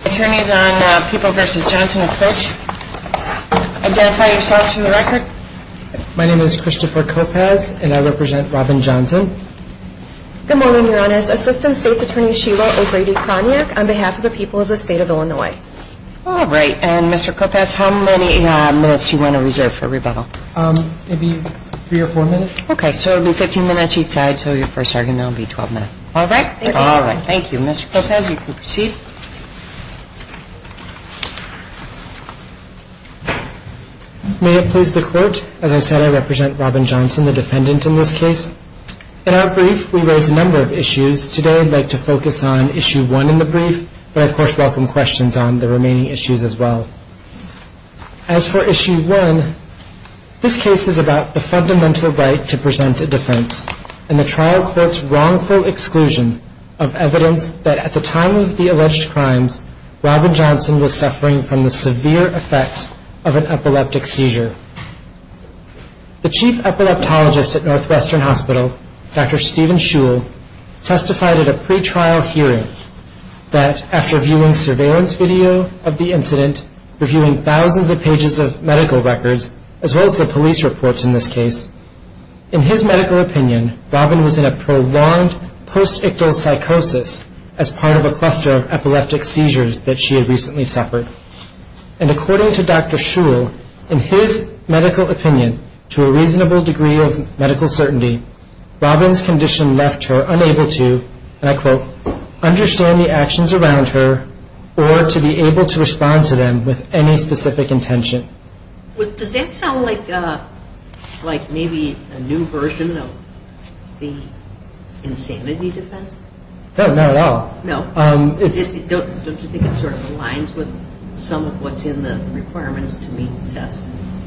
attorneys on the People v. Johnson approach. Identify yourselves for the record. My name is Christopher Kopasz and I represent Robin Johnson. Good morning, your honors. Assistant State's Attorney Sheila O'Grady-Kroniak on behalf of the people of the state of Illinois. All right. And Mr. Kopasz, how many minutes do you want to reserve for rebuttal? Maybe three or four minutes. Okay, so it will be 15 minutes each side, so your first argument will be 12 minutes. All right. Thank you. Thank you, Mr. Kopasz. You can proceed. May it please the Court, as I said, I represent Robin Johnson, the defendant in this case. In our brief, we raise a number of issues. Today, I'd like to focus on Issue 1 in the brief, but I, of course, welcome questions on the remaining issues as well. As for Issue 1, this case is about the fundamental right to present a defense in the trial court's evidence that at the time of the alleged crimes, Robin Johnson was suffering from the severe effects of an epileptic seizure. The Chief Epileptologist at Northwestern Hospital, Dr. Steven Shul, testified at a pretrial hearing that after viewing surveillance video of the incident, reviewing thousands of pages of medical records, as well as the police reports in this case, in his medical opinion, Robin was in a prolonged post-ictal psychosis as part of a cluster of epileptic seizures that she had recently suffered. And according to Dr. Shul, in his medical opinion, to a reasonable degree of medical certainty, Robin's condition left her unable to, and I quote, understand the actions around her or to be able to respond to them with any specific intention. Does that sound like maybe a new version of the insanity defense? No, not at all. No? Don't you think it sort of aligns with some of what's in the requirements to meet the test?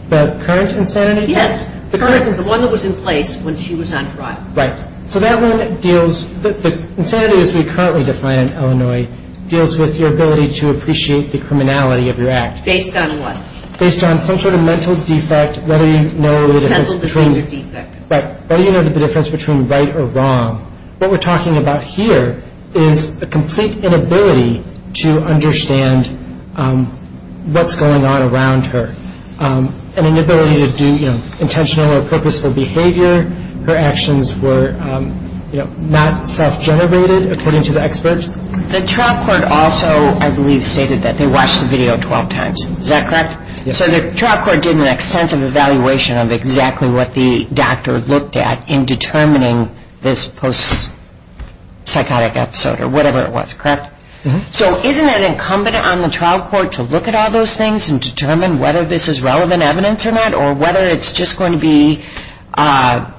The current insanity test? Yes. The one that was in place when she was on trial. Right. So that one deals, the insanity as we currently define in Illinois, deals with your ability to appreciate the criminality of your act. Based on what? Based on some sort of mental defect, whether you know the difference between right or wrong. What we're talking about here is a complete inability to understand what's going on around her. An inability to do intentional or purposeful behavior. Her actions were not self-generated, according to the expert. The trial court also, I believe, stated that they watched the video 12 times. Is that correct? Yes. So the trial court did an extensive evaluation of exactly what the doctor looked at in determining this post-psychotic episode or whatever it was, correct? Mm-hmm. So isn't it incumbent on the trial court to look at all those things and determine whether this is relevant evidence or not, or whether it's just going to be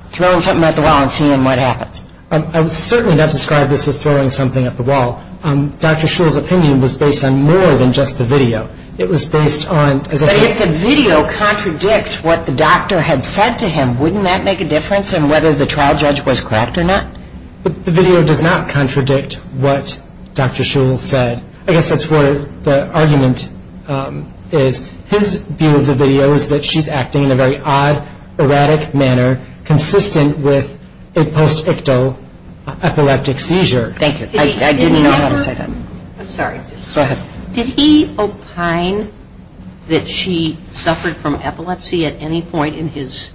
throwing something at the wall and seeing what happens? I would certainly not describe this as throwing something at the wall. Dr. Shul's opinion was based on more than just the video. It was based on... But if the video contradicts what the doctor had said to him, wouldn't that make a difference in whether the trial judge was correct or not? The video does not contradict what Dr. Shul said. I guess that's where the argument is. His view of the video is that she's acting in a very odd, erratic manner, consistent with a post-ictal epileptic seizure. Thank you. I didn't know how to say that. I'm sorry. Go ahead. Did he opine that she suffered from epilepsy at any point in his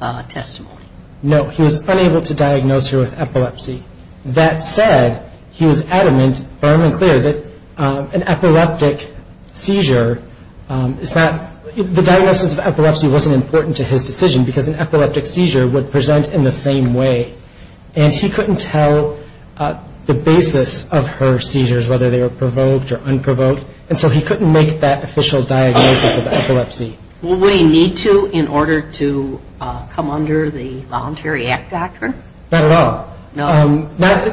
testimony? No. He was unable to diagnose her with epilepsy. That said, he was adamant, firm and clear, that an epileptic seizure is not... The diagnosis of epilepsy wasn't important to his decision because an epileptic seizure would present in the same way. And he couldn't tell the basis of her seizures, whether they were provoked or unprovoked, and so he couldn't make that official diagnosis of epilepsy. Would he need to in order to come under the Voluntary Act doctrine? Not at all. No.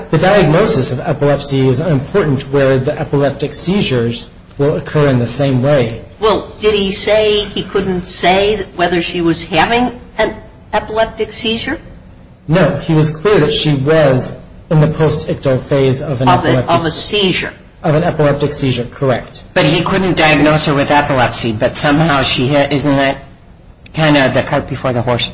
The diagnosis of epilepsy is unimportant where the epileptic seizures will occur in the same way. Well, did he say he couldn't say whether she was having an epileptic seizure? No. He was clear that she was in the post-ictal phase of an epileptic seizure. Of a seizure. Of an epileptic seizure. Correct. But he couldn't diagnose her with epilepsy, but somehow she had... Isn't that kind of the cart before the horse?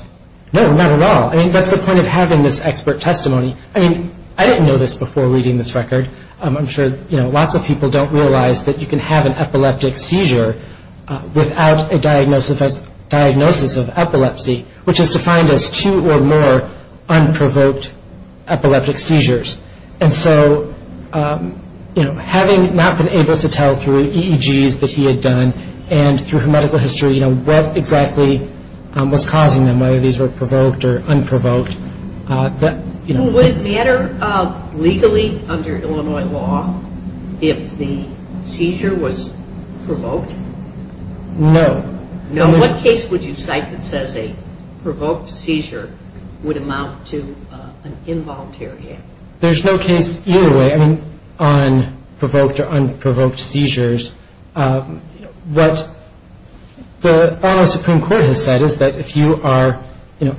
No. Not at all. I mean, that's the point of having this expert testimony. I mean, I didn't know this before reading this record. I'm sure lots of people don't realize that you can have an epileptic seizure without a diagnosis of epilepsy, which is defined as two or more unprovoked epileptic seizures. And so, having not been able to tell through EEGs that he had done, and through his medical history, what exactly was causing them, whether these were provoked or unprovoked... Would it matter legally under Illinois law if the seizure was provoked? No. What case would you cite that says a provoked seizure would amount to an involuntary act? There's no case either way on provoked or unprovoked seizures. What the Illinois Supreme Court has said is that if you are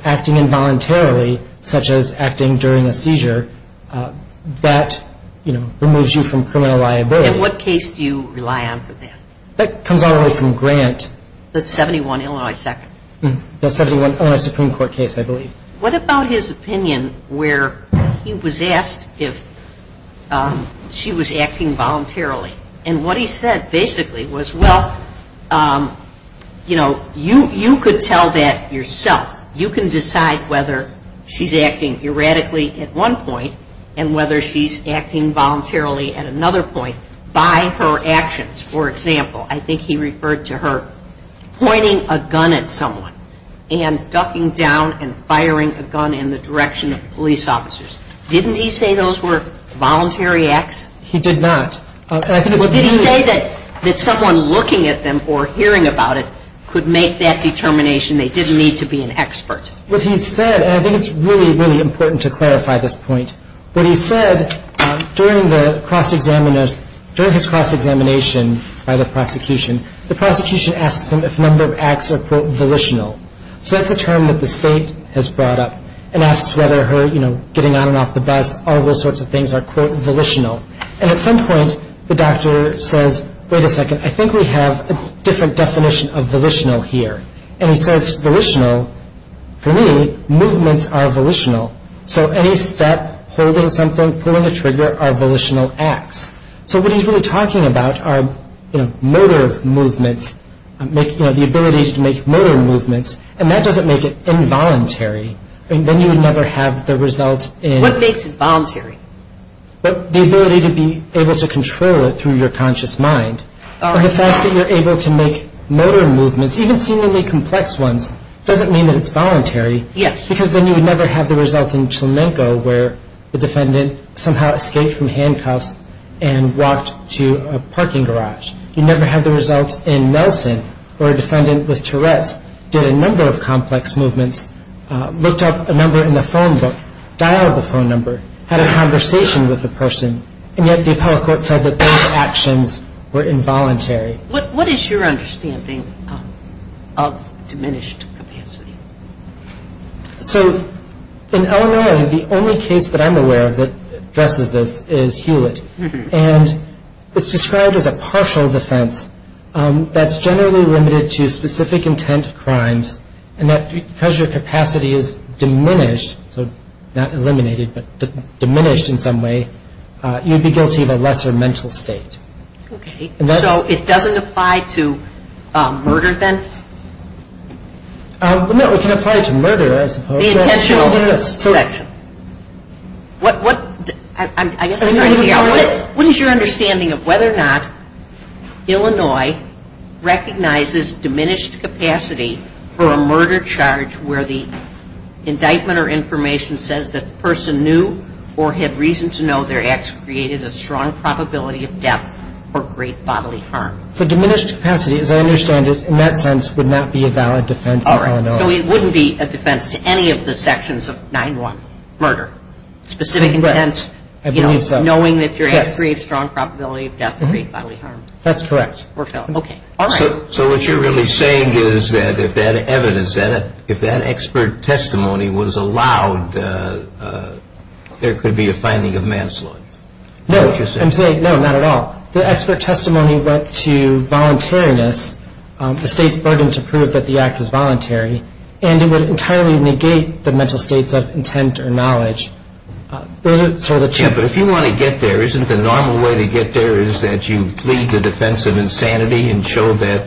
acting involuntarily, such as acting during a seizure, that removes you from criminal liability. And what case do you rely on for that? That comes all the way from Grant. The 71 Illinois Second. The 71 Illinois Supreme Court case, I believe. What about his opinion where he was asked if she was acting voluntarily? And what he said basically was, well, you know, you could tell that yourself. You can decide whether she's acting erratically at one point, and whether she's acting voluntarily at another point by her actions. For example, I think he referred to her pointing a gun at someone and ducking down and firing a gun in the direction of police officers. Didn't he say those were voluntary acts? He did not. Did he say that someone looking at them or hearing about it could make that determination? They didn't need to be an expert. What he said, and I think it's really, really important to clarify this point, what he said during his cross-examination by the prosecution, the prosecution asks him if a number of acts are, quote, volitional. So that's a term that the state has brought up, and asks whether her, you know, getting on and off the bus, all those sorts of things are, quote, volitional. And at some point, the doctor says, wait a second, I think we have a different definition of volitional here. And he says volitional, for me, movements are volitional. So any step, holding something, pulling a trigger are volitional acts. So what he's really talking about are, you know, motor movements, you know, the ability to make motor movements, and that doesn't make it involuntary. I mean, then you would never have the result in... What makes it voluntary? The ability to be able to control it through your conscious mind. The fact that you're able to make motor movements, even seemingly complex ones, doesn't mean that it's voluntary. Yes. Because then you would never have the result in Chilenko, where the defendant somehow escaped from handcuffs and walked to a parking garage. You'd never have the result in Nelson, where a defendant with Tourette's did a number of complex movements, looked up a number in the phone book, dialed the phone number, had a conversation with the person, and yet the appellate court said that those actions were involuntary. What is your understanding of diminished capacity? So, in Illinois, the only case that I'm aware of that addresses this is Hewlett, and it's described as a partial defense that's generally limited to specific intent crimes, and that because your capacity is diminished, so not eliminated, but diminished in some way, you'd be guilty of a lesser mental state. Okay, so it doesn't apply to murder then? No, it can apply to murder, I suppose. The intentional selection. What is your understanding of whether or not Illinois recognizes diminished capacity for a murder charge where the indictment or information says that the person knew or had reason to know their acts created a strong probability of death or great bodily harm? So diminished capacity, as I understand it, in that sense would not be a valid defense in Illinois. So it wouldn't be a defense to any of the sections of 9-1, murder. Specific intent, knowing that your acts create a strong probability of death or great bodily harm. That's correct. Okay, all right. So what you're really saying is that if that evidence, if that expert testimony was allowed, there could be a finding of manslaughter. No, I'm saying, no, not at all. The expert testimony went to voluntariness, the state's burden to prove that the act was voluntary, and it would entirely negate the mental states of intent or knowledge. Those are sort of two... Yeah, but if you want to get there, isn't the normal way to get there is that you plead the defense of insanity and show that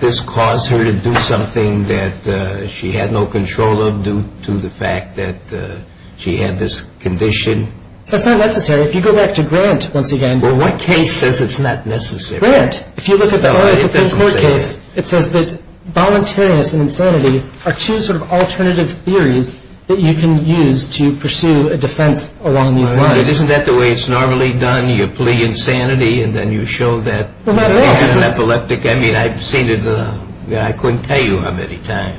this caused her to do something that she had no control of due to the fact that she had this condition? That's not necessary. If you go back to Grant once again... Well, what case says it's not necessary? Grant. If you look at the Illinois Supreme Court case, it says that voluntariness and insanity are two sort of alternative theories that you can use to pursue a defense along these lines. Isn't that the way it's normally done? You plea insanity and then you show that... Well, not at all. ...anaphylactic... I mean, I've seen it... I couldn't tell you how many times.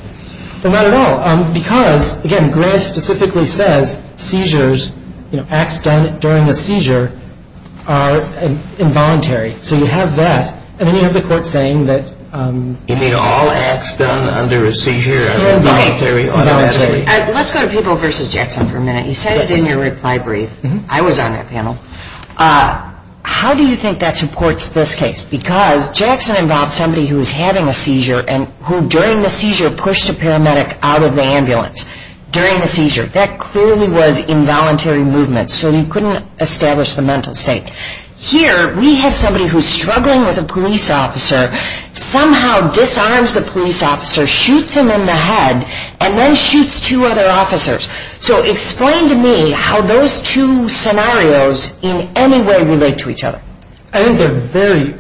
Well, not at all. Because, again, Grant specifically says seizures, acts done during a seizure, are involuntary. So you have that, and then you have the court saying that... You mean all acts done under a seizure are involuntary? Voluntary. Let's go to Peeble v. Jackson for a minute. You said it in your reply brief. I was on that panel. How do you think that supports this case? Because Jackson involved somebody who was having a seizure and who during the seizure pushed a paramedic out of the ambulance during the seizure. That clearly was involuntary movement. So you couldn't establish the mental state. Here, we have somebody who's struggling with a police officer, somehow disarms the police officer, shoots him in the head, and then shoots two other officers. So explain to me how those two scenarios in any way relate to each other. I think they're very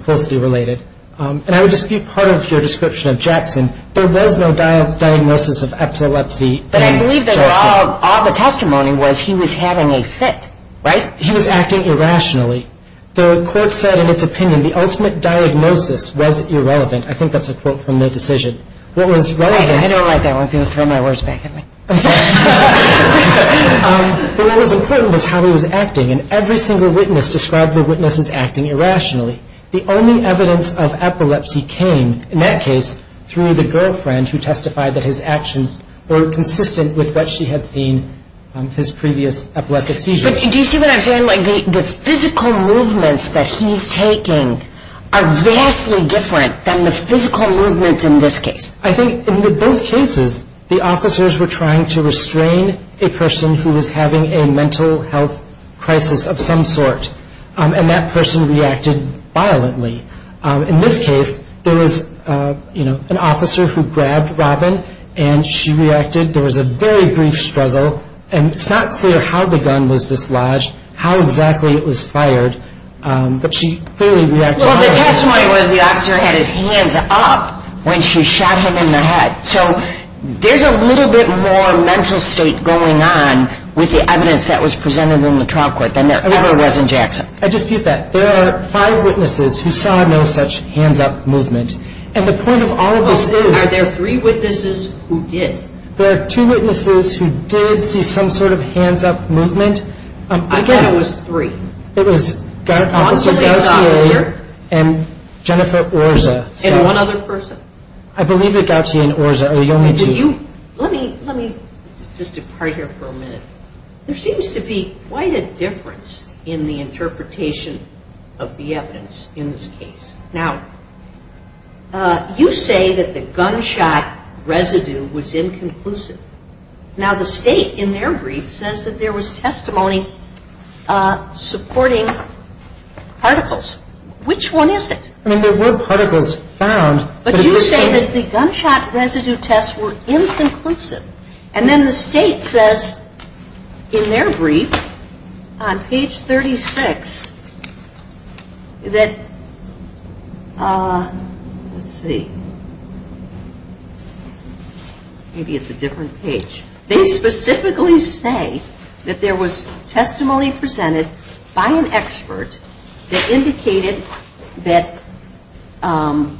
closely related. And I would just be part of your description of Jackson. There was no diagnosis of epilepsy in Jackson. But I believe that all the testimony was he was having a fit, right? He was acting irrationally. The court said in its opinion the ultimate diagnosis was irrelevant. I think that's a quote from the decision. What was relevant... I don't like that one. People throw my words back at me. I'm sorry. But what was important was how he was acting, and every single witness described the witness as acting irrationally. The only evidence of epilepsy came, in that case, through the girlfriend who testified that his actions were consistent with what she had seen his previous epileptic seizures. Do you see what I'm saying? The physical movements that he's taking are vastly different than the physical movements in this case. I think in both cases, the officers were trying to restrain a person who was having a mental health crisis of some sort. And that person reacted violently. In this case, there was an officer who grabbed Robin, and she reacted. There was a very brief struggle, and it's not clear how the gun was dislodged, how exactly it was fired, but she clearly reacted violently. Well, the testimony was the officer had his hands up when she shot him in the head. So there's a little bit more mental state going on with the evidence that was presented in the trial court than there ever was in Jackson. I dispute that. There are five witnesses who saw no such hands-up movement. And the point of all of this is... Are there three witnesses who did? There are two witnesses who did see some sort of hands-up movement. I bet it was three. It was Officer Gautier and Jennifer Orza. And one other person? I believe that Gautier and Orza are the only two. Let me just depart here for a minute. There seems to be quite a difference in the interpretation of the evidence in this case. Now, you say that the gunshot residue was inconclusive. Now, the State, in their brief, says that there was testimony supporting particles. Which one is it? I mean, there were particles found. But you say that the gunshot residue tests were inconclusive. And then the State says, in their brief, on page 36, that... Let's see. Maybe it's a different page. They specifically say that there was testimony presented by an expert that indicated that the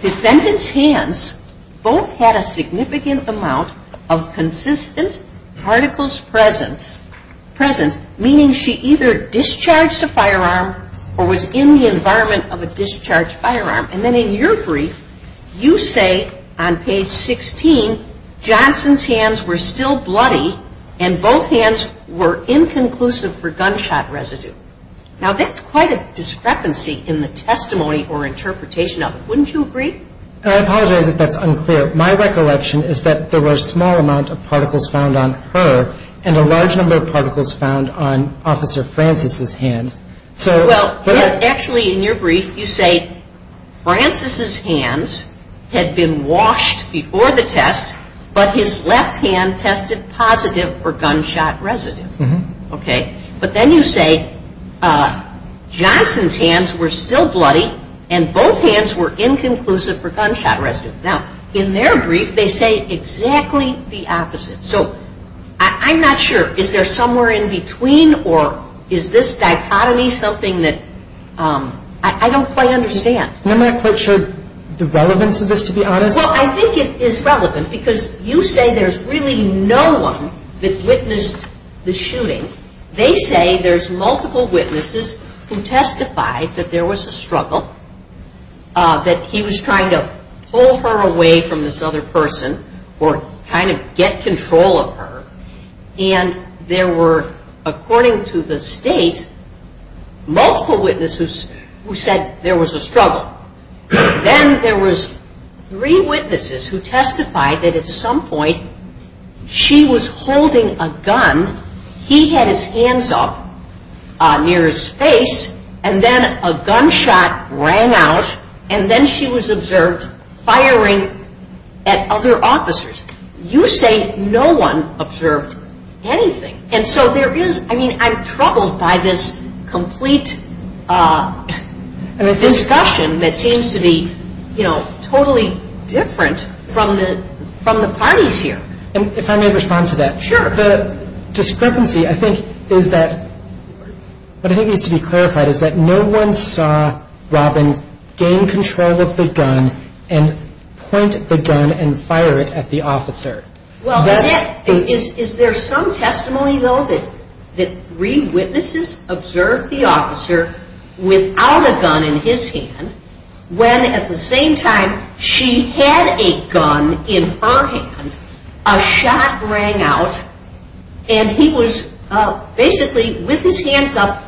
defendant's hands both had a significant amount of consistent particles present, meaning she either discharged a firearm or was in the environment of a discharged firearm. And then in your brief, you say, on page 16, Johnson's hands were still bloody and both hands were inconclusive for gunshot residue. Now, that's quite a discrepancy in the testimony or interpretation of it, wouldn't you agree? I apologize if that's unclear. My recollection is that there were a small amount of particles found on her and a large number of particles found on Officer Francis's hands. Well, actually, in your brief, you say, Francis's hands had been washed before the test, but his left hand tested positive for gunshot residue. But then you say, Johnson's hands were still bloody and both hands were inconclusive for gunshot residue. Now, in their brief, they say exactly the opposite. So I'm not sure. Is there somewhere in between or is this dichotomy something that I don't quite understand? I'm not quite sure the relevance of this, to be honest. Well, I think it is relevant because you say there's really no one that witnessed the shooting. They say there's multiple witnesses who testified that there was a struggle, that he was trying to pull her away from this other person or kind of get control of her. And there were, according to the state, multiple witnesses who said there was a struggle. Then there was three witnesses who testified that at some point she was holding a gun, he had his hands up near his face, and then a gunshot rang out, and then she was observed firing at other officers. You say no one observed anything. And so there is, I mean, I'm troubled by this complete discussion that seems to be, you know, totally different from the parties here. If I may respond to that. Sure. The discrepancy, I think, is that, what I think needs to be clarified, is that no one saw Robin gain control of the gun and point the gun and fire it at the officer. Well, is there some testimony, though, that three witnesses observed the officer without a gun in his hand, when at the same time she had a gun in her hand, a shot rang out, and he was basically with his hands up,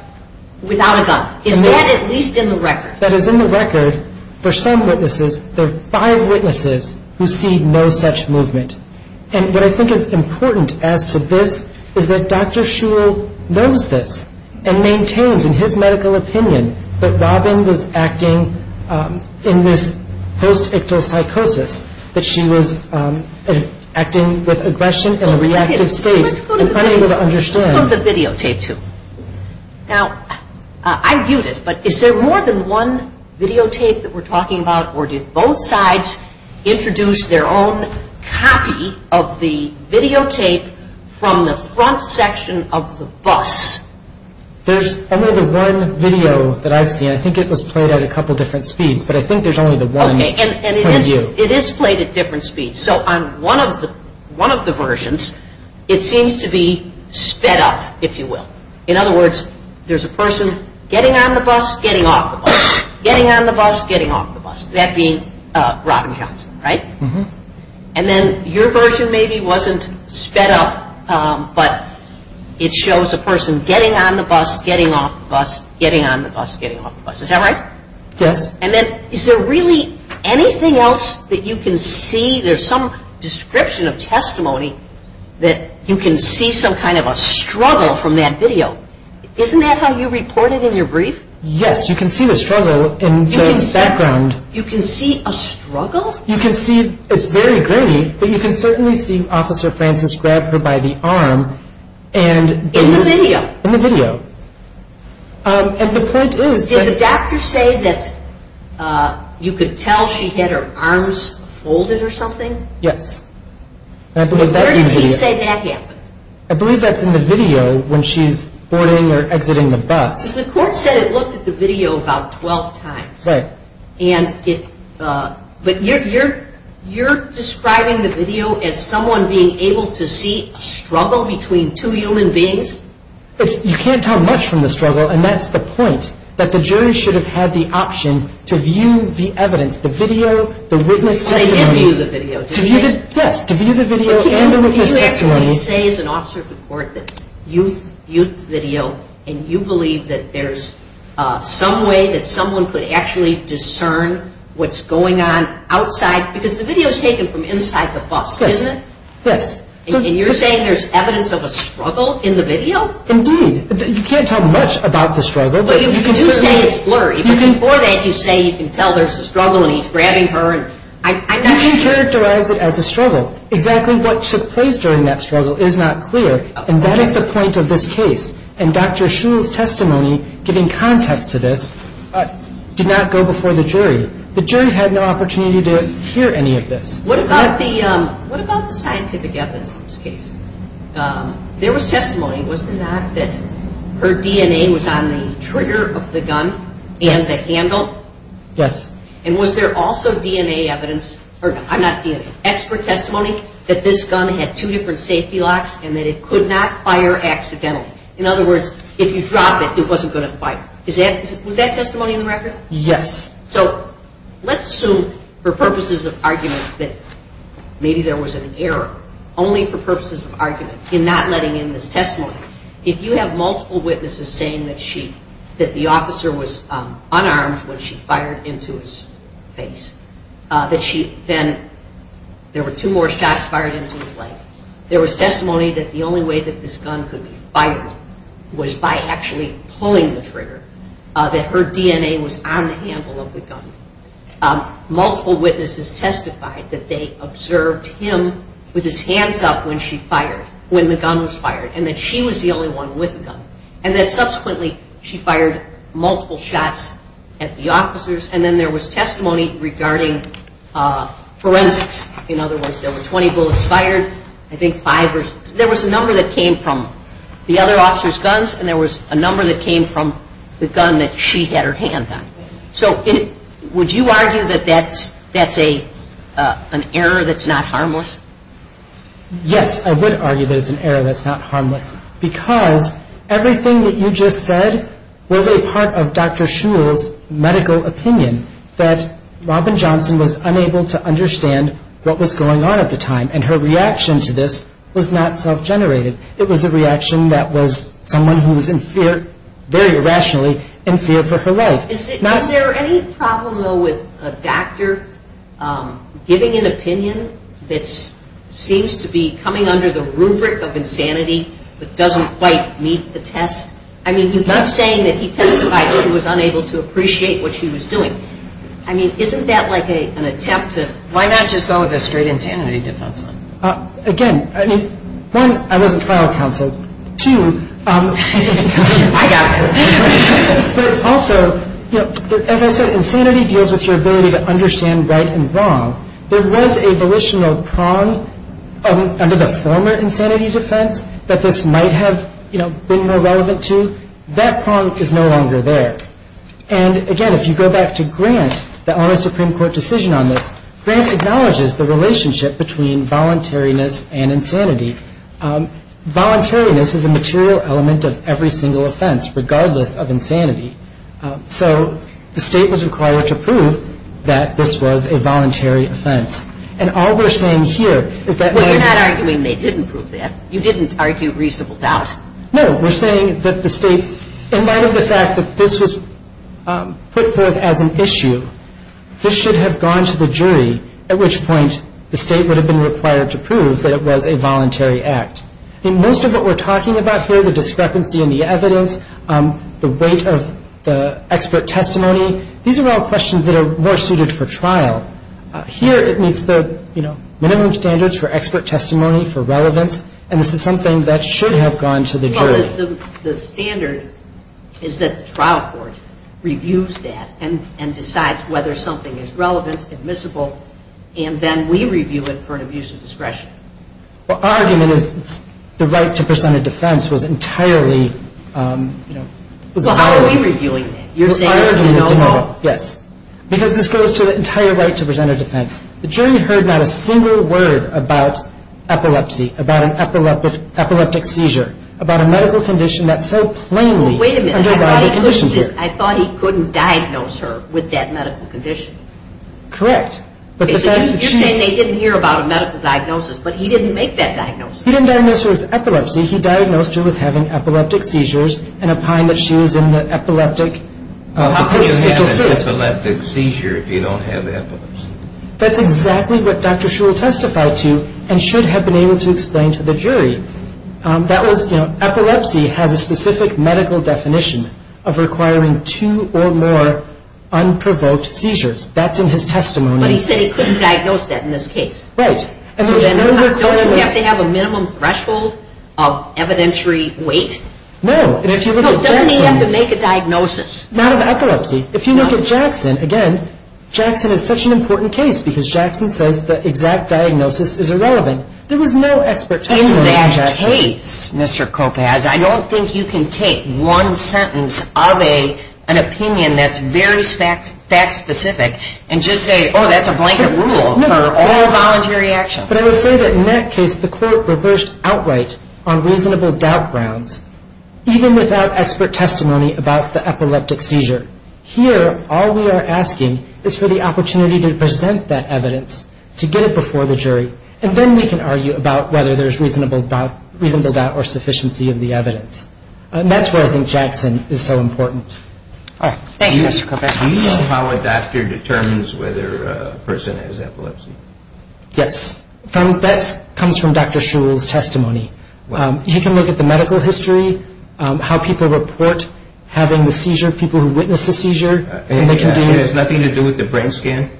without a gun. Is that at least in the record? That is in the record. For some witnesses, there are five witnesses who see no such movement. And what I think is important as to this, is that Dr. Shul knows this, and maintains, in his medical opinion, that Robin was acting in this post-ictal psychosis, that she was acting with aggression in a reactive state. Let's go to the videotape, too. Now, I viewed it, but is there more than one videotape that we're talking about, or did both sides introduce their own copy of the videotape from the front section of the bus? There's only the one video that I've seen. I think it was played at a couple different speeds, but I think there's only the one. And it is played at different speeds. So on one of the versions, it seems to be sped up, if you will. In other words, there's a person getting on the bus, getting off the bus. Getting on the bus, getting off the bus. That being Robin Johnson, right? And then your version maybe wasn't sped up, but it shows a person getting on the bus, getting off the bus, getting on the bus, getting off the bus. Is that right? Yes. And then, is there really anything else that you can see? There's some description of testimony that you can see some kind of a struggle from that video. Isn't that how you report it in your brief? Yes, you can see the struggle in the background. You can see a struggle? You can see, it's very grainy, but you can certainly see Officer Francis grab her by the arm and... In the video? In the video. And the point is that... Did you say that you could tell she had her arms folded or something? Yes. Where did you say that happened? I believe that's in the video when she's boarding or exiting the bus. Because the court said it looked at the video about 12 times. Right. But you're describing the video as someone being able to see a struggle between two human beings? You can't tell much from the struggle, and that's the point, that the jury should have had the option to view the evidence, the video, the witness testimony. They did view the video, didn't they? Yes, to view the video and the witness testimony. You actually say as an officer of the court that you viewed the video and you believe that there's some way that someone could actually discern what's going on outside, because the video's taken from inside the bus, isn't it? Yes. And you're saying there's evidence of a struggle in the video? Indeed. You can't tell much about the struggle. You do say it's blurry, but before that you say you can tell there's a struggle and he's grabbing her. You can characterize it as a struggle. Exactly what took place during that struggle is not clear, and that is the point of this case. And Dr. Shule's testimony, giving context to this, did not go before the jury. The jury had no opportunity to hear any of this. What about the scientific evidence in this case? There was testimony. Was there not that her DNA was on the trigger of the gun and the handle? Yes. And was there also DNA evidence? I'm not DNA. Expert testimony that this gun had two different safety locks and that it could not fire accidentally. In other words, if you dropped it, it wasn't going to fire. Was that testimony in the record? Yes. So let's assume for purposes of argument that maybe there was an error, only for purposes of argument, in not letting in this testimony. If you have multiple witnesses saying that the officer was unarmed when she fired into his face, that she then, there were two more shots fired into his leg, there was testimony that the only way that this gun could be fired was by actually pulling the trigger, that her DNA was on the handle of the gun. Multiple witnesses testified that they observed him with his hands up when she fired, when the gun was fired. And that she was the only one with a gun. And that subsequently, she fired multiple shots at the officers. And then there was testimony regarding forensics. In other words, there were 20 bullets fired, I think 5 or 6. There was a number that came from the other officer's guns and there was a number that came from the gun that she had her hand on. So would you argue that that's an error that's not harmless? Yes, I would argue that it's an error that's not harmless. Because everything that you just said was a part of Dr. Shule's medical opinion that Robin Johnson was unable to understand what was going on at the time. And her reaction to this was not self-generated. It was a reaction that was someone who was in fear, very irrationally, in fear for her life. Is there any problem, though, with a doctor giving an opinion that seems to be coming under the rubric of insanity that doesn't quite meet the test? I mean, you keep saying that he testified that he was unable to appreciate what she was doing. I mean, isn't that like an attempt to... Why not just go with a straight insanity defense? Again, I mean, one, I wasn't trial counsel. Two, I got her. But also, as I said, insanity deals with your ability to understand right and wrong. There was a volitional prong under the former insanity defense that this might have been more relevant to. That prong is no longer there. And again, if you go back to Grant, the Honor Supreme Court decision on this, Grant acknowledges the relationship between voluntariness and insanity. Voluntariness is a material element of every single offense, regardless of insanity. So, the State was required to prove that this was a voluntary offense. And all we're saying here is that... You're not arguing they didn't prove that. You didn't argue reasonable doubt. No, we're saying that the State, in light of the fact that this was put forth as an issue, this should have gone to the jury, at which point the State would have been required to prove that it was a voluntary act. Most of what we're talking about here, the discrepancy in the evidence, the weight of the expert testimony, these are all questions that are more suited for trial. Here, it meets the minimum standards for expert testimony, for relevance, and this is something that should have gone to the jury. The standard is that the trial court reviews that and decides whether something is relevant, admissible, and then we review it for an abuse of discretion. Well, our argument is the right to present a defense was entirely... Well, how are we reviewing it? You're saying it's a no-no. Because this goes to the entire right to present a defense. The jury heard not a single word about epilepsy, about an epileptic seizure, about a medical condition that so plainly underlies the condition. I thought he couldn't diagnose her with that medical condition. Correct. You're saying they didn't hear about a medical diagnosis, but he didn't make that diagnosis. He didn't diagnose her with epilepsy, he diagnosed her with having epileptic seizures and opined that she was in an epileptic... How could you have an epileptic seizure if you don't have epilepsy? That's exactly what Dr. Shule testified to and should have been able to explain to the jury. Epilepsy has a specific medical definition of requiring two or more unprovoked seizures. That's in his testimony. But he said he couldn't diagnose that in this case. Right. Doesn't he have to have a minimum threshold of evidentiary weight? No. And if you look at Jackson... Doesn't he have to make a diagnosis? Not of epilepsy. If you look at Jackson, again, Jackson is such an important case because Jackson says the exact diagnosis is irrelevant. There was no expert testimony on Jackson. In that case, Mr. Kopecz, I don't think you can take one sentence of an opinion that's very fact-specific and just say, oh, that's a blanket rule for all voluntary actions. But I would say that in that case, the court reversed outright on reasonable doubt grounds even without expert testimony about the epileptic seizure. Here, all we are asking is for the opportunity to present that evidence to get it before the jury and then we can argue about whether there's reasonable doubt or sufficiency of the evidence. And that's why I think Jackson is so important. Thank you, Mr. Kopecz. Do you know how a doctor determines whether a person has epilepsy? Yes. That comes from Dr. Shule's testimony. He can look at the medical history, how people report having the seizure, people who witness the seizure. And it has nothing to do with the brain scan?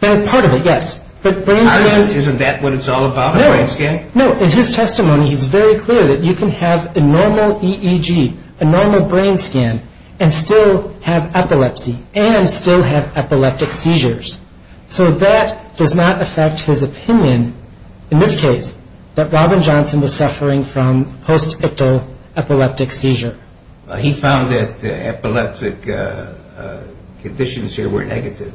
That is part of it, yes. Isn't that what it's all about, a brain scan? No. In his testimony, he's very clear that you can have a normal EEG, a normal brain scan, and still have epilepsy and still have epileptic seizures. So that does not affect his opinion, in this case, that Robin Johnson was suffering from post-ictal epileptic seizure. He found that the epileptic conditions here were negative.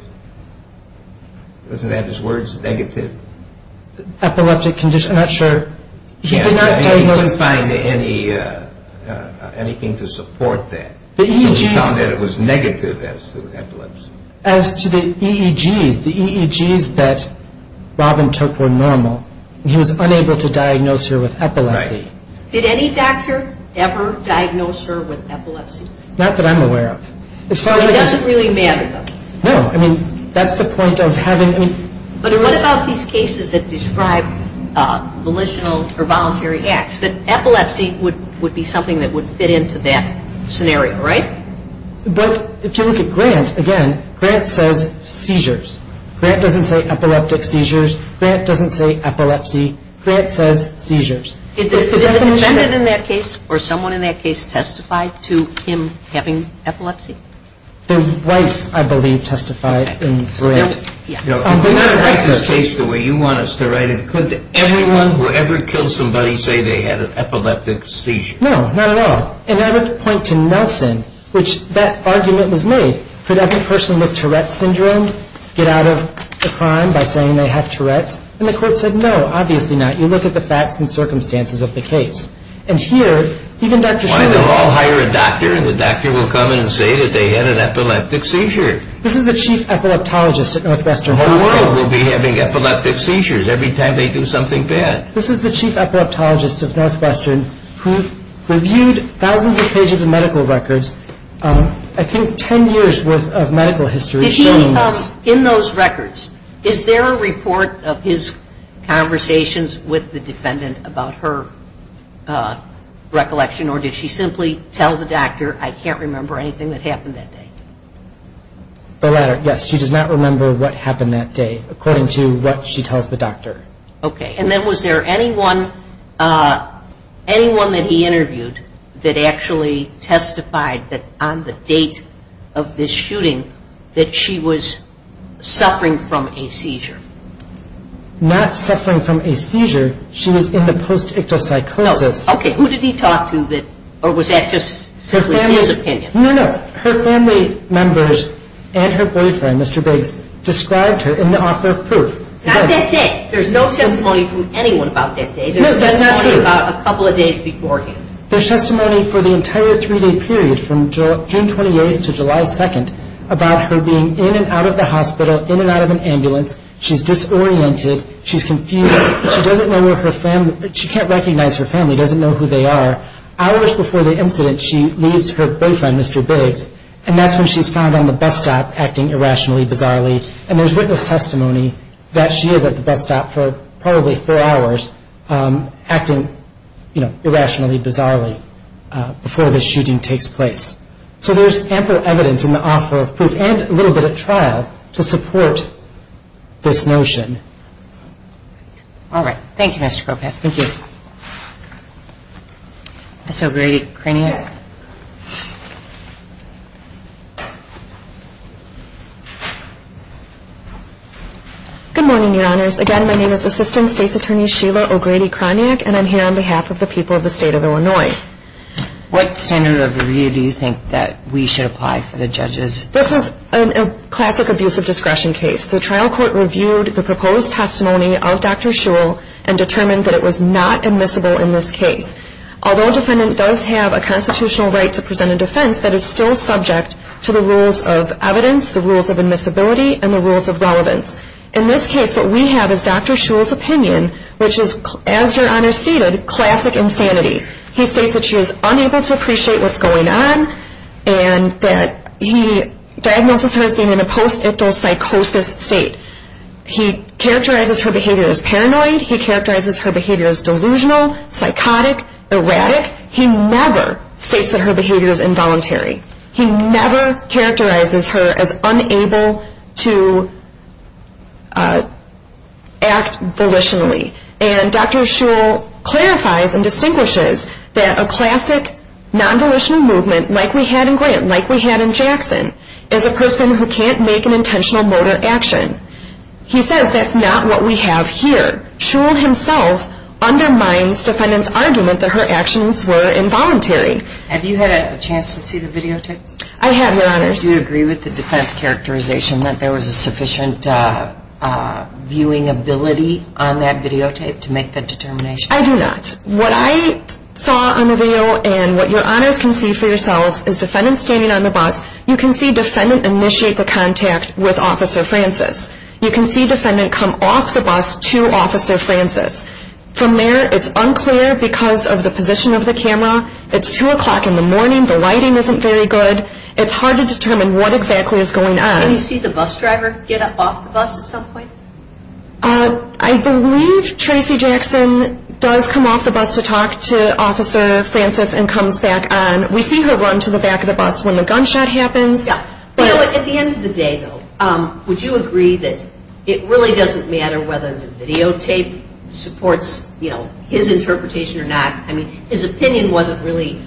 Doesn't that have his words, negative? Epileptic conditions? I'm not sure. He did not find anything to support that. So he found that it was negative as to epilepsy. As to the EEGs, the EEGs that Robin took were normal. He was unable to diagnose her with epilepsy. Did any doctor ever diagnose her with epilepsy? Not that I'm aware of. It doesn't really matter, though. No, I mean, that's the point of having... But what about these cases that describe volitional or voluntary acts? That epilepsy would be something that would fit into that scenario, right? But if you look at Grant, again, Grant says seizures. Grant doesn't say epileptic seizures. Grant doesn't say epilepsy. Grant says seizures. Did the defendant in that case, or someone in that case, testify to him having epilepsy? The wife, I believe, testified in Grant. If we're going to write this case the way you want us to write it, could everyone who ever killed somebody say they had an epileptic seizure? No, not at all. And I would point to Nelson, which that argument was made. Could every person with Tourette's Syndrome get out of the crime by saying they have Tourette's? And the court said, no, obviously not. You look at the facts and circumstances of the case. And here, even Dr. Schilling... Why don't they all hire a doctor, and the doctor will come in and say that they had an epileptic seizure. This is the chief epileptologist at Northwestern Hospital. The world will be having epileptic seizures every time they do something bad. This is the chief epileptologist of Northwestern who reviewed thousands of pages of medical records, I think 10 years worth of medical history showing this. Did he, in those records, is there a report of his conversations with the defendant about her recollection, or did she simply tell the doctor, I can't remember anything that happened that day? The latter, yes. She does not remember what happened that day according to what she tells the doctor. Okay, and then was there anyone anyone that he interviewed that actually testified that on the date of this shooting that she was suffering from a seizure? Not suffering from a seizure. She was in the post-ictus psychosis. Okay, who did he talk to or was that just his opinion? No, no. Her family members and her boyfriend, Mr. Biggs, described her in the author of proof. Not that day. There's no testimony from anyone about that day. There's testimony about a couple of days before him. There's testimony for the entire three-day period from June 28th to July 2nd about her being in and out of the hospital, in and out of an ambulance. She's disoriented. She's confused. She can't recognize her family, doesn't know who they are. Hours before the incident, she leaves her boyfriend, Mr. Biggs, and that's when she's found on the bus stop acting irrationally bizarrely. And there's witness testimony that she is at the bus stop for probably four hours acting, you know, irrationally bizarrely before this shooting takes place. So there's ample evidence in the author of proof and a little bit of trial to support this notion. All right. Thank you, Mr. Kropas. Thank you. Ms. O'Grady-Kroniak. Good morning, Your Honors. Again, my name is Assistant State's Attorney Sheila O'Grady-Kroniak and I'm here on behalf of the people of the state of Illinois. What standard of review do you think that we should apply for the judges? This is a classic abuse of discretion case. The trial court reviewed the evidence and determined that it was not admissible in this case. Although a defendant does have a constitutional right to present a defense, that is still subject to the rules of evidence, the rules of admissibility, and the rules of relevance. In this case, what we have is Dr. Shul's opinion, which is, as Your Honor stated, classic insanity. He states that she is unable to appreciate what's going on and that he diagnoses her as being in a post-ictal psychosis state. He characterizes her behavior as paranoid. He characterizes her behavior as delusional, psychotic, erratic. He never states that her behavior is involuntary. He never characterizes her as unable to act volitionally. And Dr. Shul clarifies and distinguishes that a classic non-volitional movement like we had in Grant, like we had in Jackson, is a person who can't make an intentional motor action. He says that's not what we have here. Shul himself undermines defendant's argument that her actions were involuntary. Have you had a chance to see the videotape? I have, Your Honors. Do you agree with the defense characterization that there was a sufficient viewing ability on that videotape to make that determination? I do not. What I saw on the video and what Your Honors can see for yourselves is defendant standing on the bus. You can see defendant initiate the contact with Officer Francis. You can see defendant come off the bus to Officer Francis. From there, it's unclear because of the position of the camera. It's 2 o'clock in the morning. The lighting isn't very good. It's hard to determine what exactly is going on. Can you see the bus driver get up off the bus at some point? I believe Tracy Jackson does come off the bus to talk to Officer Francis and comes back on. We see the driver run to the back of the bus when the gunshot happens. At the end of the day though, would you agree that it really doesn't matter whether the videotape supports his interpretation or not? His opinion wasn't really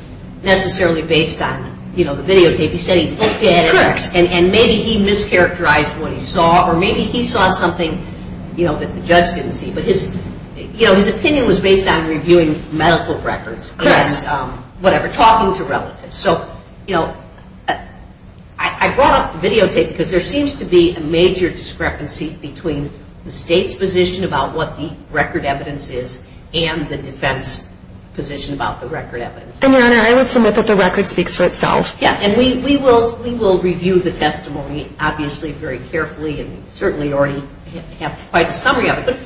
necessarily based on the videotape. He said he looked at it and maybe he mischaracterized what he saw or maybe he saw something that the judge didn't see. His opinion was based on reviewing medical records. Correct. Talking to relatives. I brought up the videotape because there seems to be a major discrepancy between the state's position about what the record evidence is and the defense position about the record evidence. Your Honor, I would submit that the record speaks for itself. We will review the testimony very carefully and certainly already have quite a summary of it.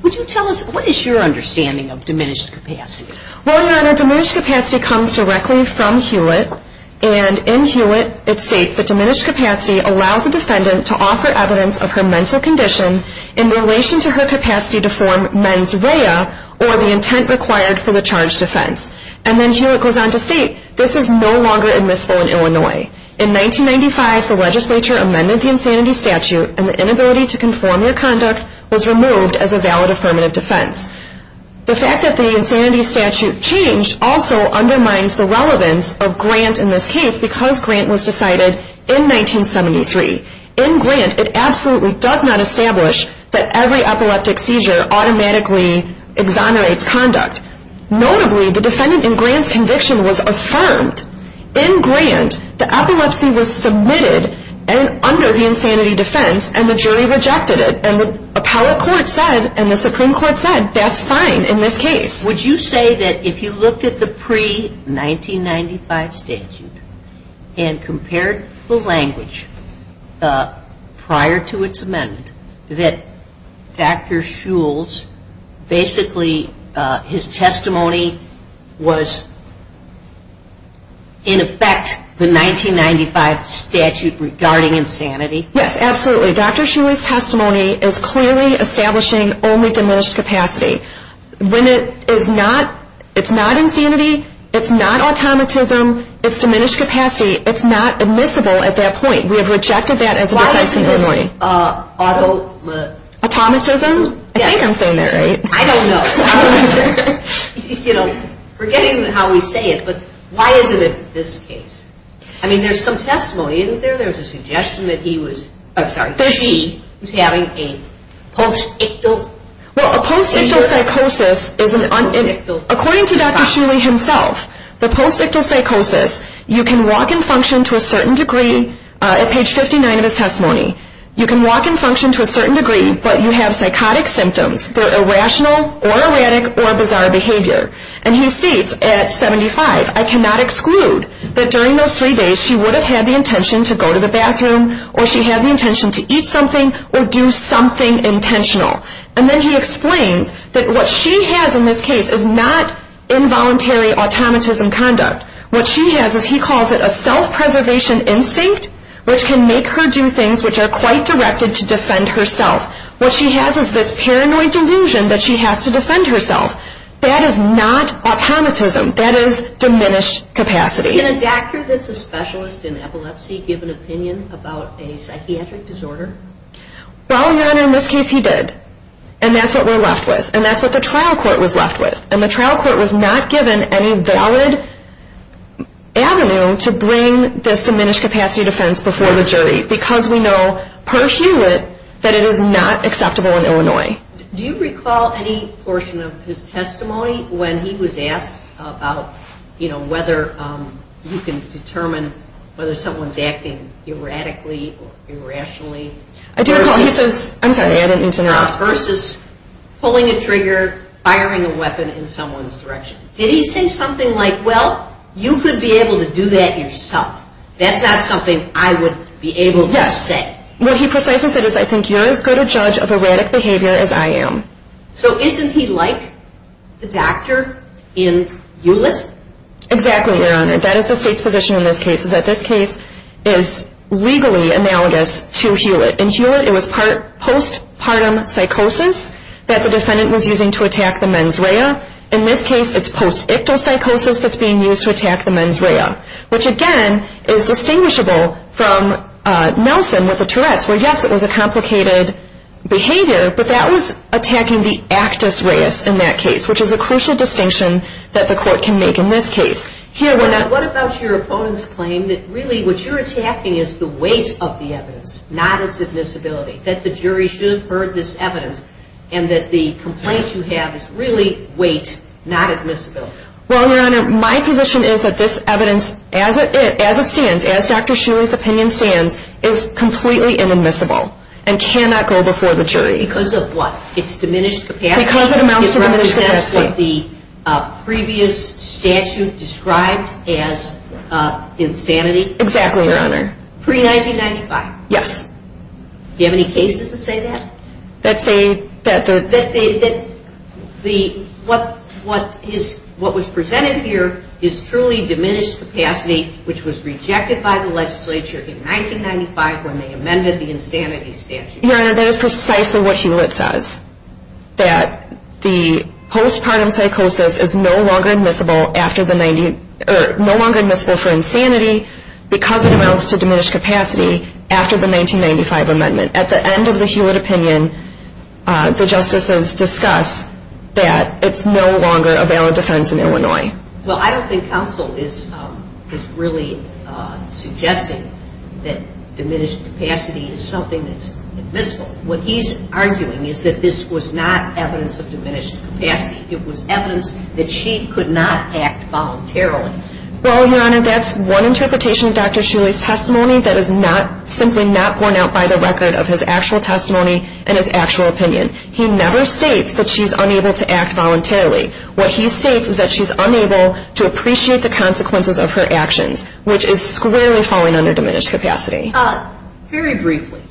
What is your understanding of diminished capacity? Diminished capacity comes directly from Hewlett. In Hewlett it states that diminished capacity allows a defendant to offer evidence of her mental condition in relation to her capacity to form mens rea or the intent required for the charge defense. Hewlett goes on to state this is no longer admissible in Illinois. In 1995 the legislature amended the insanity statute and the inability to conform their conduct was removed as a valid affirmative defense. The fact that the insanity statute changed also undermines the relevance of Grant in this case because Grant was decided in 1973. In Grant it absolutely does not establish that every epileptic seizure automatically exonerates conduct. Notably, the defendant in Grant's conviction was affirmed. In Grant the epilepsy was submitted under the insanity defense and the jury rejected it. And the appellate court said and the Supreme Court said that's fine in this case. Would you say that if you looked at the pre-1995 statute and compared the language prior to its amendment that Dr. Shules basically his testimony was in effect the 1995 statute regarding insanity? Yes, absolutely. Dr. Shules' testimony is clearly establishing only diminished capacity. When it is not insanity, it's not automatism, it's diminished capacity, it's not admissible at that point. We have rejected that as a defense in Illinois. Why isn't this automatism? I think I'm saying that right. I don't know. we say it, but why isn't it this case? I mean there's some testimony isn't there? There's a suggestion that he was I'm sorry, she was having a post-ictal Well, a post-ictal psychosis according to Dr. Shules himself, the post-ictal psychosis, you can walk and function to a certain degree at page 59 of his testimony. You can walk and function to a certain degree, but you have psychotic symptoms. They're irrational or erratic or bizarre behavior. And he states at 75, I cannot exclude that during those three days, she would have had the intention to go to the bathroom, or she had the intention to eat something, or do something intentional. And then he explains that what she has in this case is not involuntary automatism conduct. What she has is, he calls it a self-preservation instinct, which can make her do things which are quite directed to defend herself. What she has is this paranoid delusion that she has to defend herself. That is not automatism. That is diminished capacity. Can a doctor that's a specialist in epilepsy give an opinion about a psychiatric disorder? Well, Ron, in this case, he did. And that's what we're left with. And that's what the trial court was left with. And the trial court was not given any valid avenue to bring this diminished capacity defense before the jury because we know, per Hewitt, that it is not acceptable in Illinois. Do you recall any portion of his testimony when he was asked about whether you can determine whether someone's acting erratically or irrationally? I do recall he says, versus pulling a trigger, firing a weapon in someone's direction. Did he say something like, well, you could be able to do that yourself? That's not something I would be able to say. What he precisely said is I think you're as good a judge of erratic behavior as I am. So isn't he like the doctor in Hewitt? Exactly, Your Honor. That is the state's position in this case, is that this case is legally analogous to Hewitt. In Hewitt, it was post-partum psychosis that the defendant was using to attack the mens rea. In this case, it's post-ictal psychosis that's being used to attack the mens rea. Which, again, is distinguishable from Nelson with the Tourette's, where, yes, it was a complicated behavior, but that was in that case, which is a crucial distinction that the court can make in this case. What about your opponent's claim that really what you're attacking is the weight of the evidence, not its admissibility, that the jury should have heard this evidence, and that the complaint you have is really weight, not admissibility? Well, Your Honor, my position is that this evidence, as it stands, as Dr. Shuley's opinion stands, is completely inadmissible, and cannot go before the jury. Because of what? It's diminished capacity. Because it amounts to diminished capacity. It represents what the previous statute described as insanity. Exactly, Your Honor. Pre-1995. Yes. Do you have any cases that say that? That say that the... That the... What was presented here is truly diminished capacity, which was rejected by the legislature in 1995 when they amended the insanity statute. Your Honor, that is precisely what Hewlett says. That the postpartum psychosis is no longer admissible after the 90...or no longer admissible for insanity because it amounts to diminished capacity after the 1995 amendment. At the end of the Hewlett opinion, the justices discuss that it's no longer a valid defense in Illinois. Well, I don't think counsel is really suggesting that diminished capacity is admissible. What he's arguing is that this was not evidence of diminished capacity. It was evidence that she could not act voluntarily. Well, Your Honor, that's one interpretation of Dr. Shuley's testimony that is not...simply not borne out by the record of his actual testimony and his actual opinion. He never states that she's unable to act voluntarily. What he states is that she's unable to appreciate the consequences of her actions, which is squarely falling under diminished capacity. Very briefly,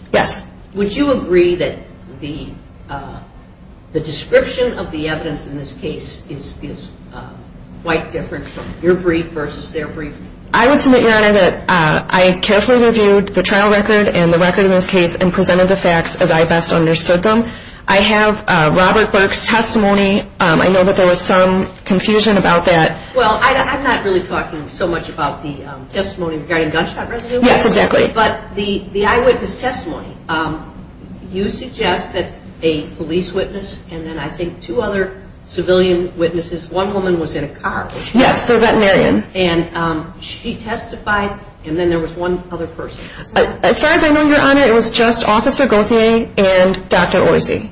would you agree that the description of the evidence in this case is quite different from your brief versus their brief? I would submit, Your Honor, that I carefully reviewed the trial record and the record in this case and presented the facts as I best understood them. I have Robert Burke's testimony. I know that there was some confusion about that. Well, I'm not really talking so much about the testimony regarding gunshot residue. Yes, exactly. But the eyewitness testimony, you suggest that a police witness and then I think two other civilian witnesses, one woman was in a car. Yes, the veterinarian. And she testified and then there was one other person. As far as I know, Your Honor, it was just Officer Gauthier and Dr. Oisey.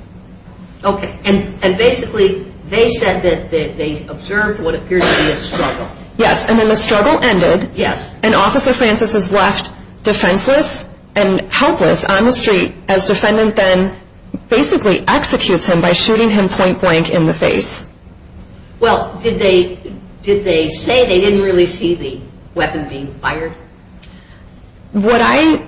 Okay. And basically they said that they observed what appears to be a struggle. Yes. And then the struggle ended. Yes. And Officer Francis is left defenseless and helpless on the street as defendant then basically executes him by shooting him point blank in the face. Well, did they say they didn't really see the weapon being fired? What I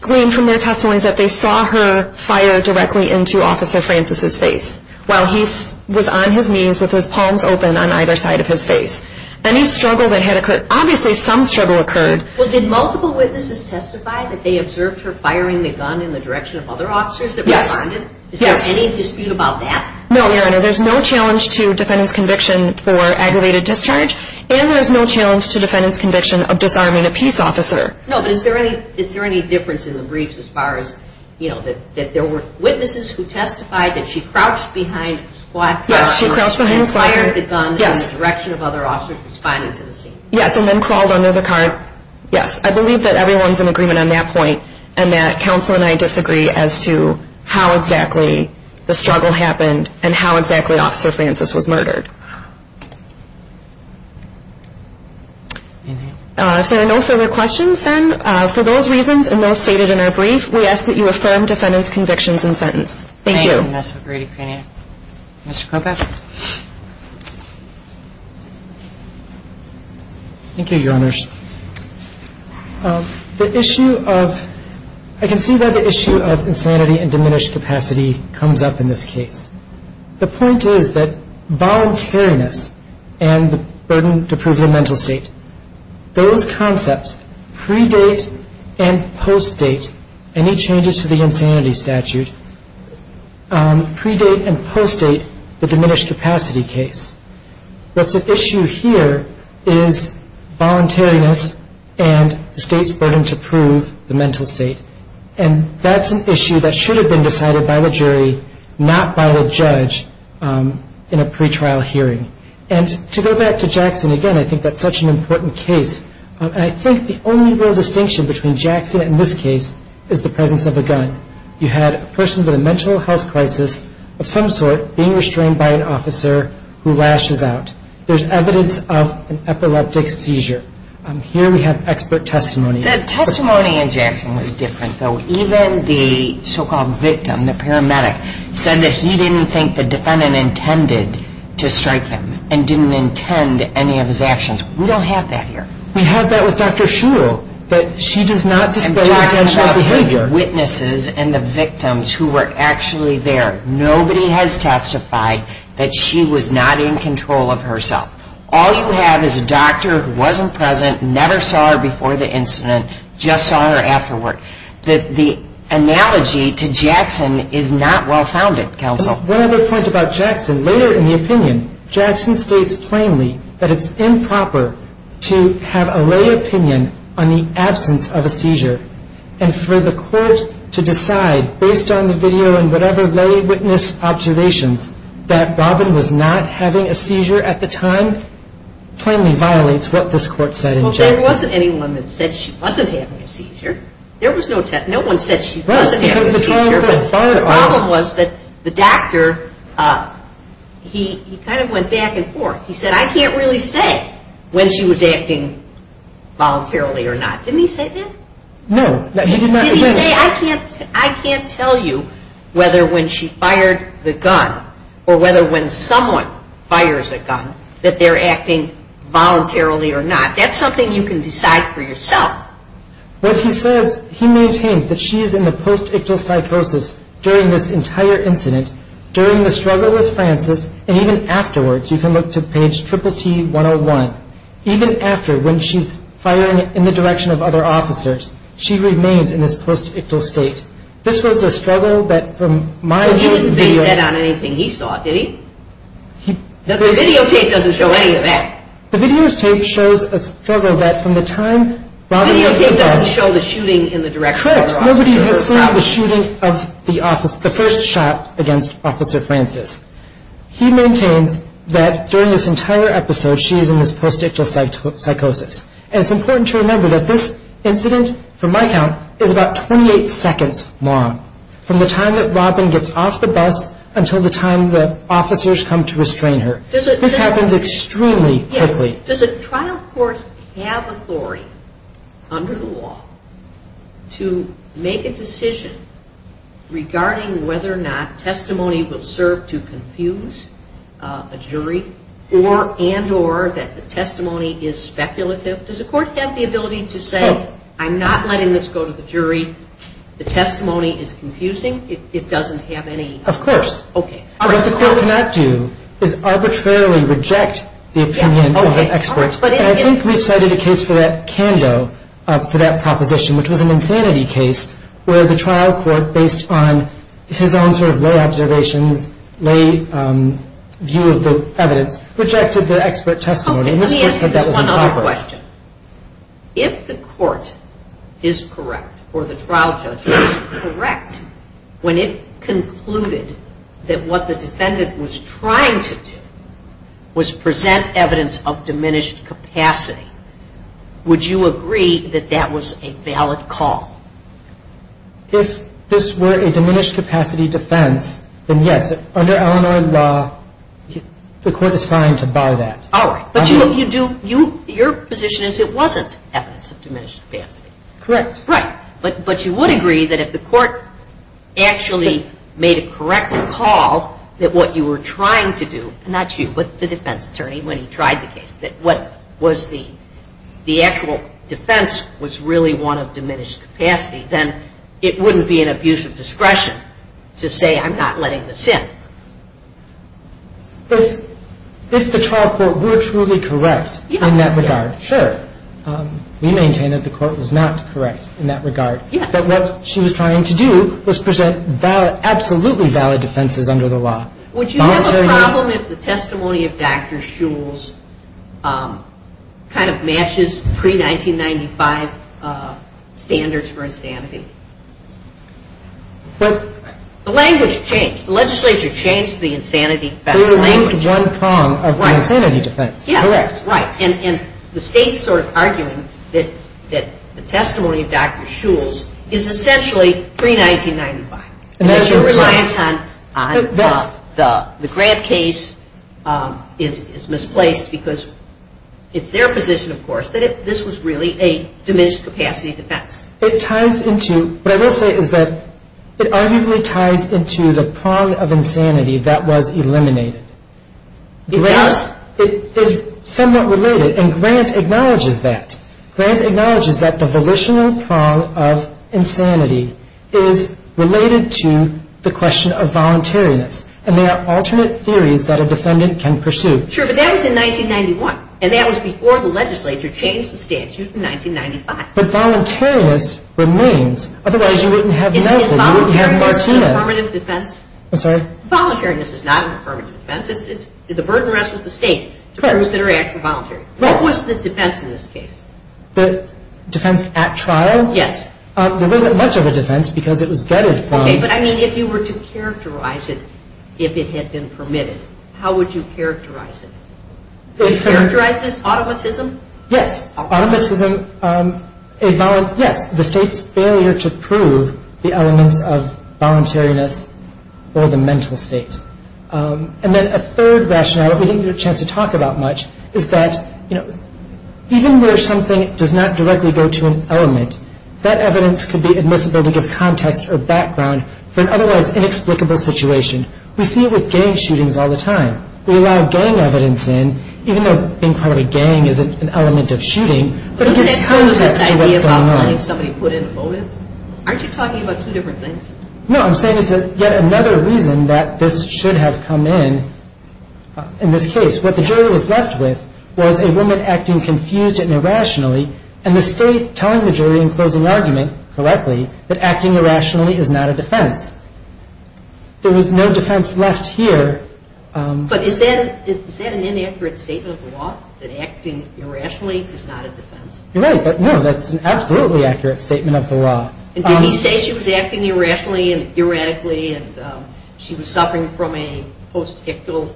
gleaned from their testimony is that they saw her fire directly into Officer Francis' face while he was on his knees with his palms open on either side of his face. Any struggle that had occurred, obviously some struggle occurred. Well, did multiple witnesses testify that they observed her firing the gun in the direction of other officers that were behind it? Yes. Is there any dispute about that? No, Your Honor. There's no challenge to defendant's conviction for aggravated discharge and there is no challenge to defendant's conviction of disarming a peace officer. No, but is there any difference in the briefs as far as, you know, that there were witnesses who testified that she crouched behind a squad car and fired the gun in the direction of other officers responding to the scene? Yes, and then crawled under the car. Yes, I believe that everyone's in agreement on that point and that counsel and I disagree as to how exactly the struggle happened and how exactly Officer Francis was murdered. If there are no further questions, then for those reasons and those stated in our brief, we ask that you affirm defendant's convictions in sentence. Thank you. Thank you, Mr. Kropach. Mr. Kropach? Thank you, Your Honors. The issue of I can see that the issue of insanity and diminished capacity comes up in this case. The point is that voluntariness and the burden to prove your mental state, those concepts predate and post-date any changes to the insanity statute predate and post-date the diminished capacity case. What's at issue here is voluntariness and the state's burden to prove the mental state and that's an issue that should have been decided by the jury not by the judge in a pretrial hearing and to go back to Jackson again, I think that's such an important case and I think the only real distinction between Jackson and Jackson was a victim of a gun. You had a person with a mental health crisis of some sort being restrained by an officer who lashes out. There's evidence of an epileptic seizure. Here we have expert testimony. The testimony in Jackson was different, though. Even the so-called victim, the paramedic, said that he didn't think the defendant intended to strike him and didn't intend any of his actions. We don't have that here. We have that with Dr. Shul. I'm talking about the witnesses and the victims who were actually there. Nobody has testified that she was not in control of herself. All you have is a doctor who wasn't present, never saw her before the incident, just saw her afterward. The analogy to Jackson is not well-founded, counsel. One other point about Jackson. Later in the opinion, Jackson states plainly that it's improper to have a lay opinion on the absence of a seizure. And for the court to decide, based on the video and whatever lay witness observations, that Robin was not having a seizure at the time plainly violates what this court said in Jackson. Well, there wasn't anyone that said she wasn't having a seizure. No one said she wasn't having a seizure. The problem was that the doctor, he kind of went back and forth. He said, I can't really say when she was acting voluntarily or not. Didn't he say that? No, he did not. Did he say, I can't tell you whether when she fired the gun or whether when someone fires a gun that they're acting voluntarily or not. That's something you can decide for yourself. What he says, he maintains that she is in a post-ictal psychosis during this entire incident, during the struggle with Francis, and even afterwards. You can look to page Triple T 101. Even after, when she's firing in the direction of other officers, she remains in this post-ictal state. This was a struggle that from my view... But he didn't base that on anything he saw, did he? The videotape doesn't show any of that. The videotape shows a struggle that from the time... The videotape doesn't show the shooting in the direction of the first shot against Officer Francis. He maintains that during this entire episode, she is in this post-ictal psychosis. And it's important to remember that this incident, from my count, is about 28 seconds long. From the time that Robin gets off the bus until the time the officers come to restrain her. This happens extremely quickly. Does a trial court have authority under the law to make a decision regarding whether or not testimony will serve to confuse a jury? And or that the testimony is speculative? Does a court have the ability to say, I'm not letting this go to the jury. The testimony is confusing. It doesn't have any... Of course. What the court cannot do is arbitrarily reject the opinion of the expert. And I think we've cited a case for that, Kando, for that proposition, which was an insanity case, where the trial court, based on his own sort of lay observations, lay view of the evidence, rejected the expert testimony. Let me ask you this one other question. If the court is correct, or the trial judge is correct, when it concluded that what the defendant was trying to do was present evidence of diminished capacity, would you agree that that was a valid call? If this were a diminished capacity defense, then yes, under Illinois law, the court is fine to bar that. Your position is it wasn't evidence of diminished capacity. Correct. Right. But you would agree that if the court actually made a correct call that what you were trying to do, not you, but the defense attorney when he tried the case, that what was the actual defense was really one of diminished capacity, then it wouldn't be an abuse of discretion to say I'm not letting this in. If the trial court were truly correct in that regard, sure. We maintain that the court was not correct in that regard. Yes. But what she was trying to do was present absolutely valid defenses under the law. Would you have a problem if the testimony of Dr. Shules kind of matches pre-1995 standards for insanity? But the language changed. The legislature changed the insanity defense language. They removed one prong of the insanity defense. Correct. The state's sort of arguing that the testimony of Dr. Shules is essentially pre-1995. It relies on the grant case is misplaced because it's their position, of course, that this was really a diminished capacity defense. It ties into, what I will say is that it arguably ties into the prong of insanity that was eliminated. Because it is somewhat related, and Grant acknowledges that. Grant acknowledges that the volitional prong of insanity is related to the question of theories that a defendant can pursue. Sure, but that was in 1991, and that was before the legislature changed the statute in 1995. But voluntariness remains, otherwise you wouldn't have NELSA, you wouldn't have Martina. Is voluntariness an affirmative defense? I'm sorry? Voluntariness is not an affirmative defense. The burden rests with the state. What was the defense in this case? Defense at trial? Yes. There wasn't much of a defense because it was gutted from... Okay, but I mean if you were to characterize it, if it had been permitted, how would you characterize it? Do you characterize this automatism? Yes, automatism. Yes, the state's failure to prove the elements of voluntariness or the mental state. And then a third rationale that we didn't get a chance to talk about much is that, you know, even where something does not directly go to an element, that evidence could be admissible to give context or background for an otherwise inexplicable situation. We see it with gang shootings all the time. We allow gang evidence in, even though being part of a gang isn't an element of shooting, but it gives context to what's going on. Isn't it kind of this idea about letting somebody put in a motive? Aren't you talking about two different things? No, I'm saying it's yet another reason that this should have come in, in this case. What the jury was left with was a woman acting confused and irrationally, and the state telling the jury in closing argument, correctly, that acting irrationally is not a defense. There was no defense left here. But is that an inaccurate statement of the law, that acting irrationally is not a defense? You're right, but no, that's an absolutely accurate statement of the law. And did he say she was acting irrationally and erratically and she was suffering from a postictal...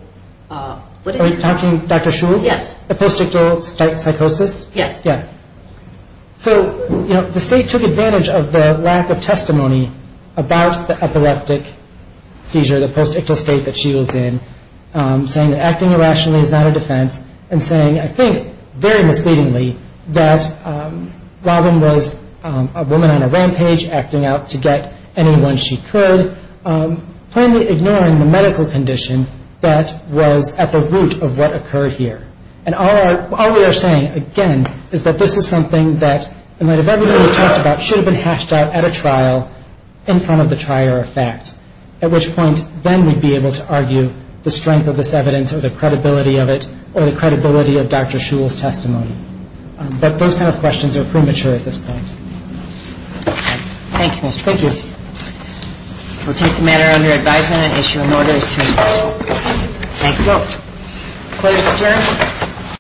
Are you talking, Dr. Shule? Yes. A postictal psychosis? Yes. Yeah. So, the state took advantage of the lack of testimony about the epileptic seizure, the postictal state that she was in, saying that acting irrationally is not a defense, and saying, I think, very misleadingly, that Robin was a woman on a rampage, acting out to get anyone she could, plainly ignoring the medical condition that was at the root of what occurred here. And all we are saying, again, is that this is something that, in light of everything we've talked about, should have been hashed out at a trial, in front of the trier of fact. At which point, then we'd be able to argue the strength of this evidence or the credibility of it or the credibility of Dr. Shule's testimony. But those kind of questions are premature at this point. Thank you, Mr. Pritchett. Thank you. We'll take the matter under advisement and issue an order as soon as possible. Thank you. Court is adjourned.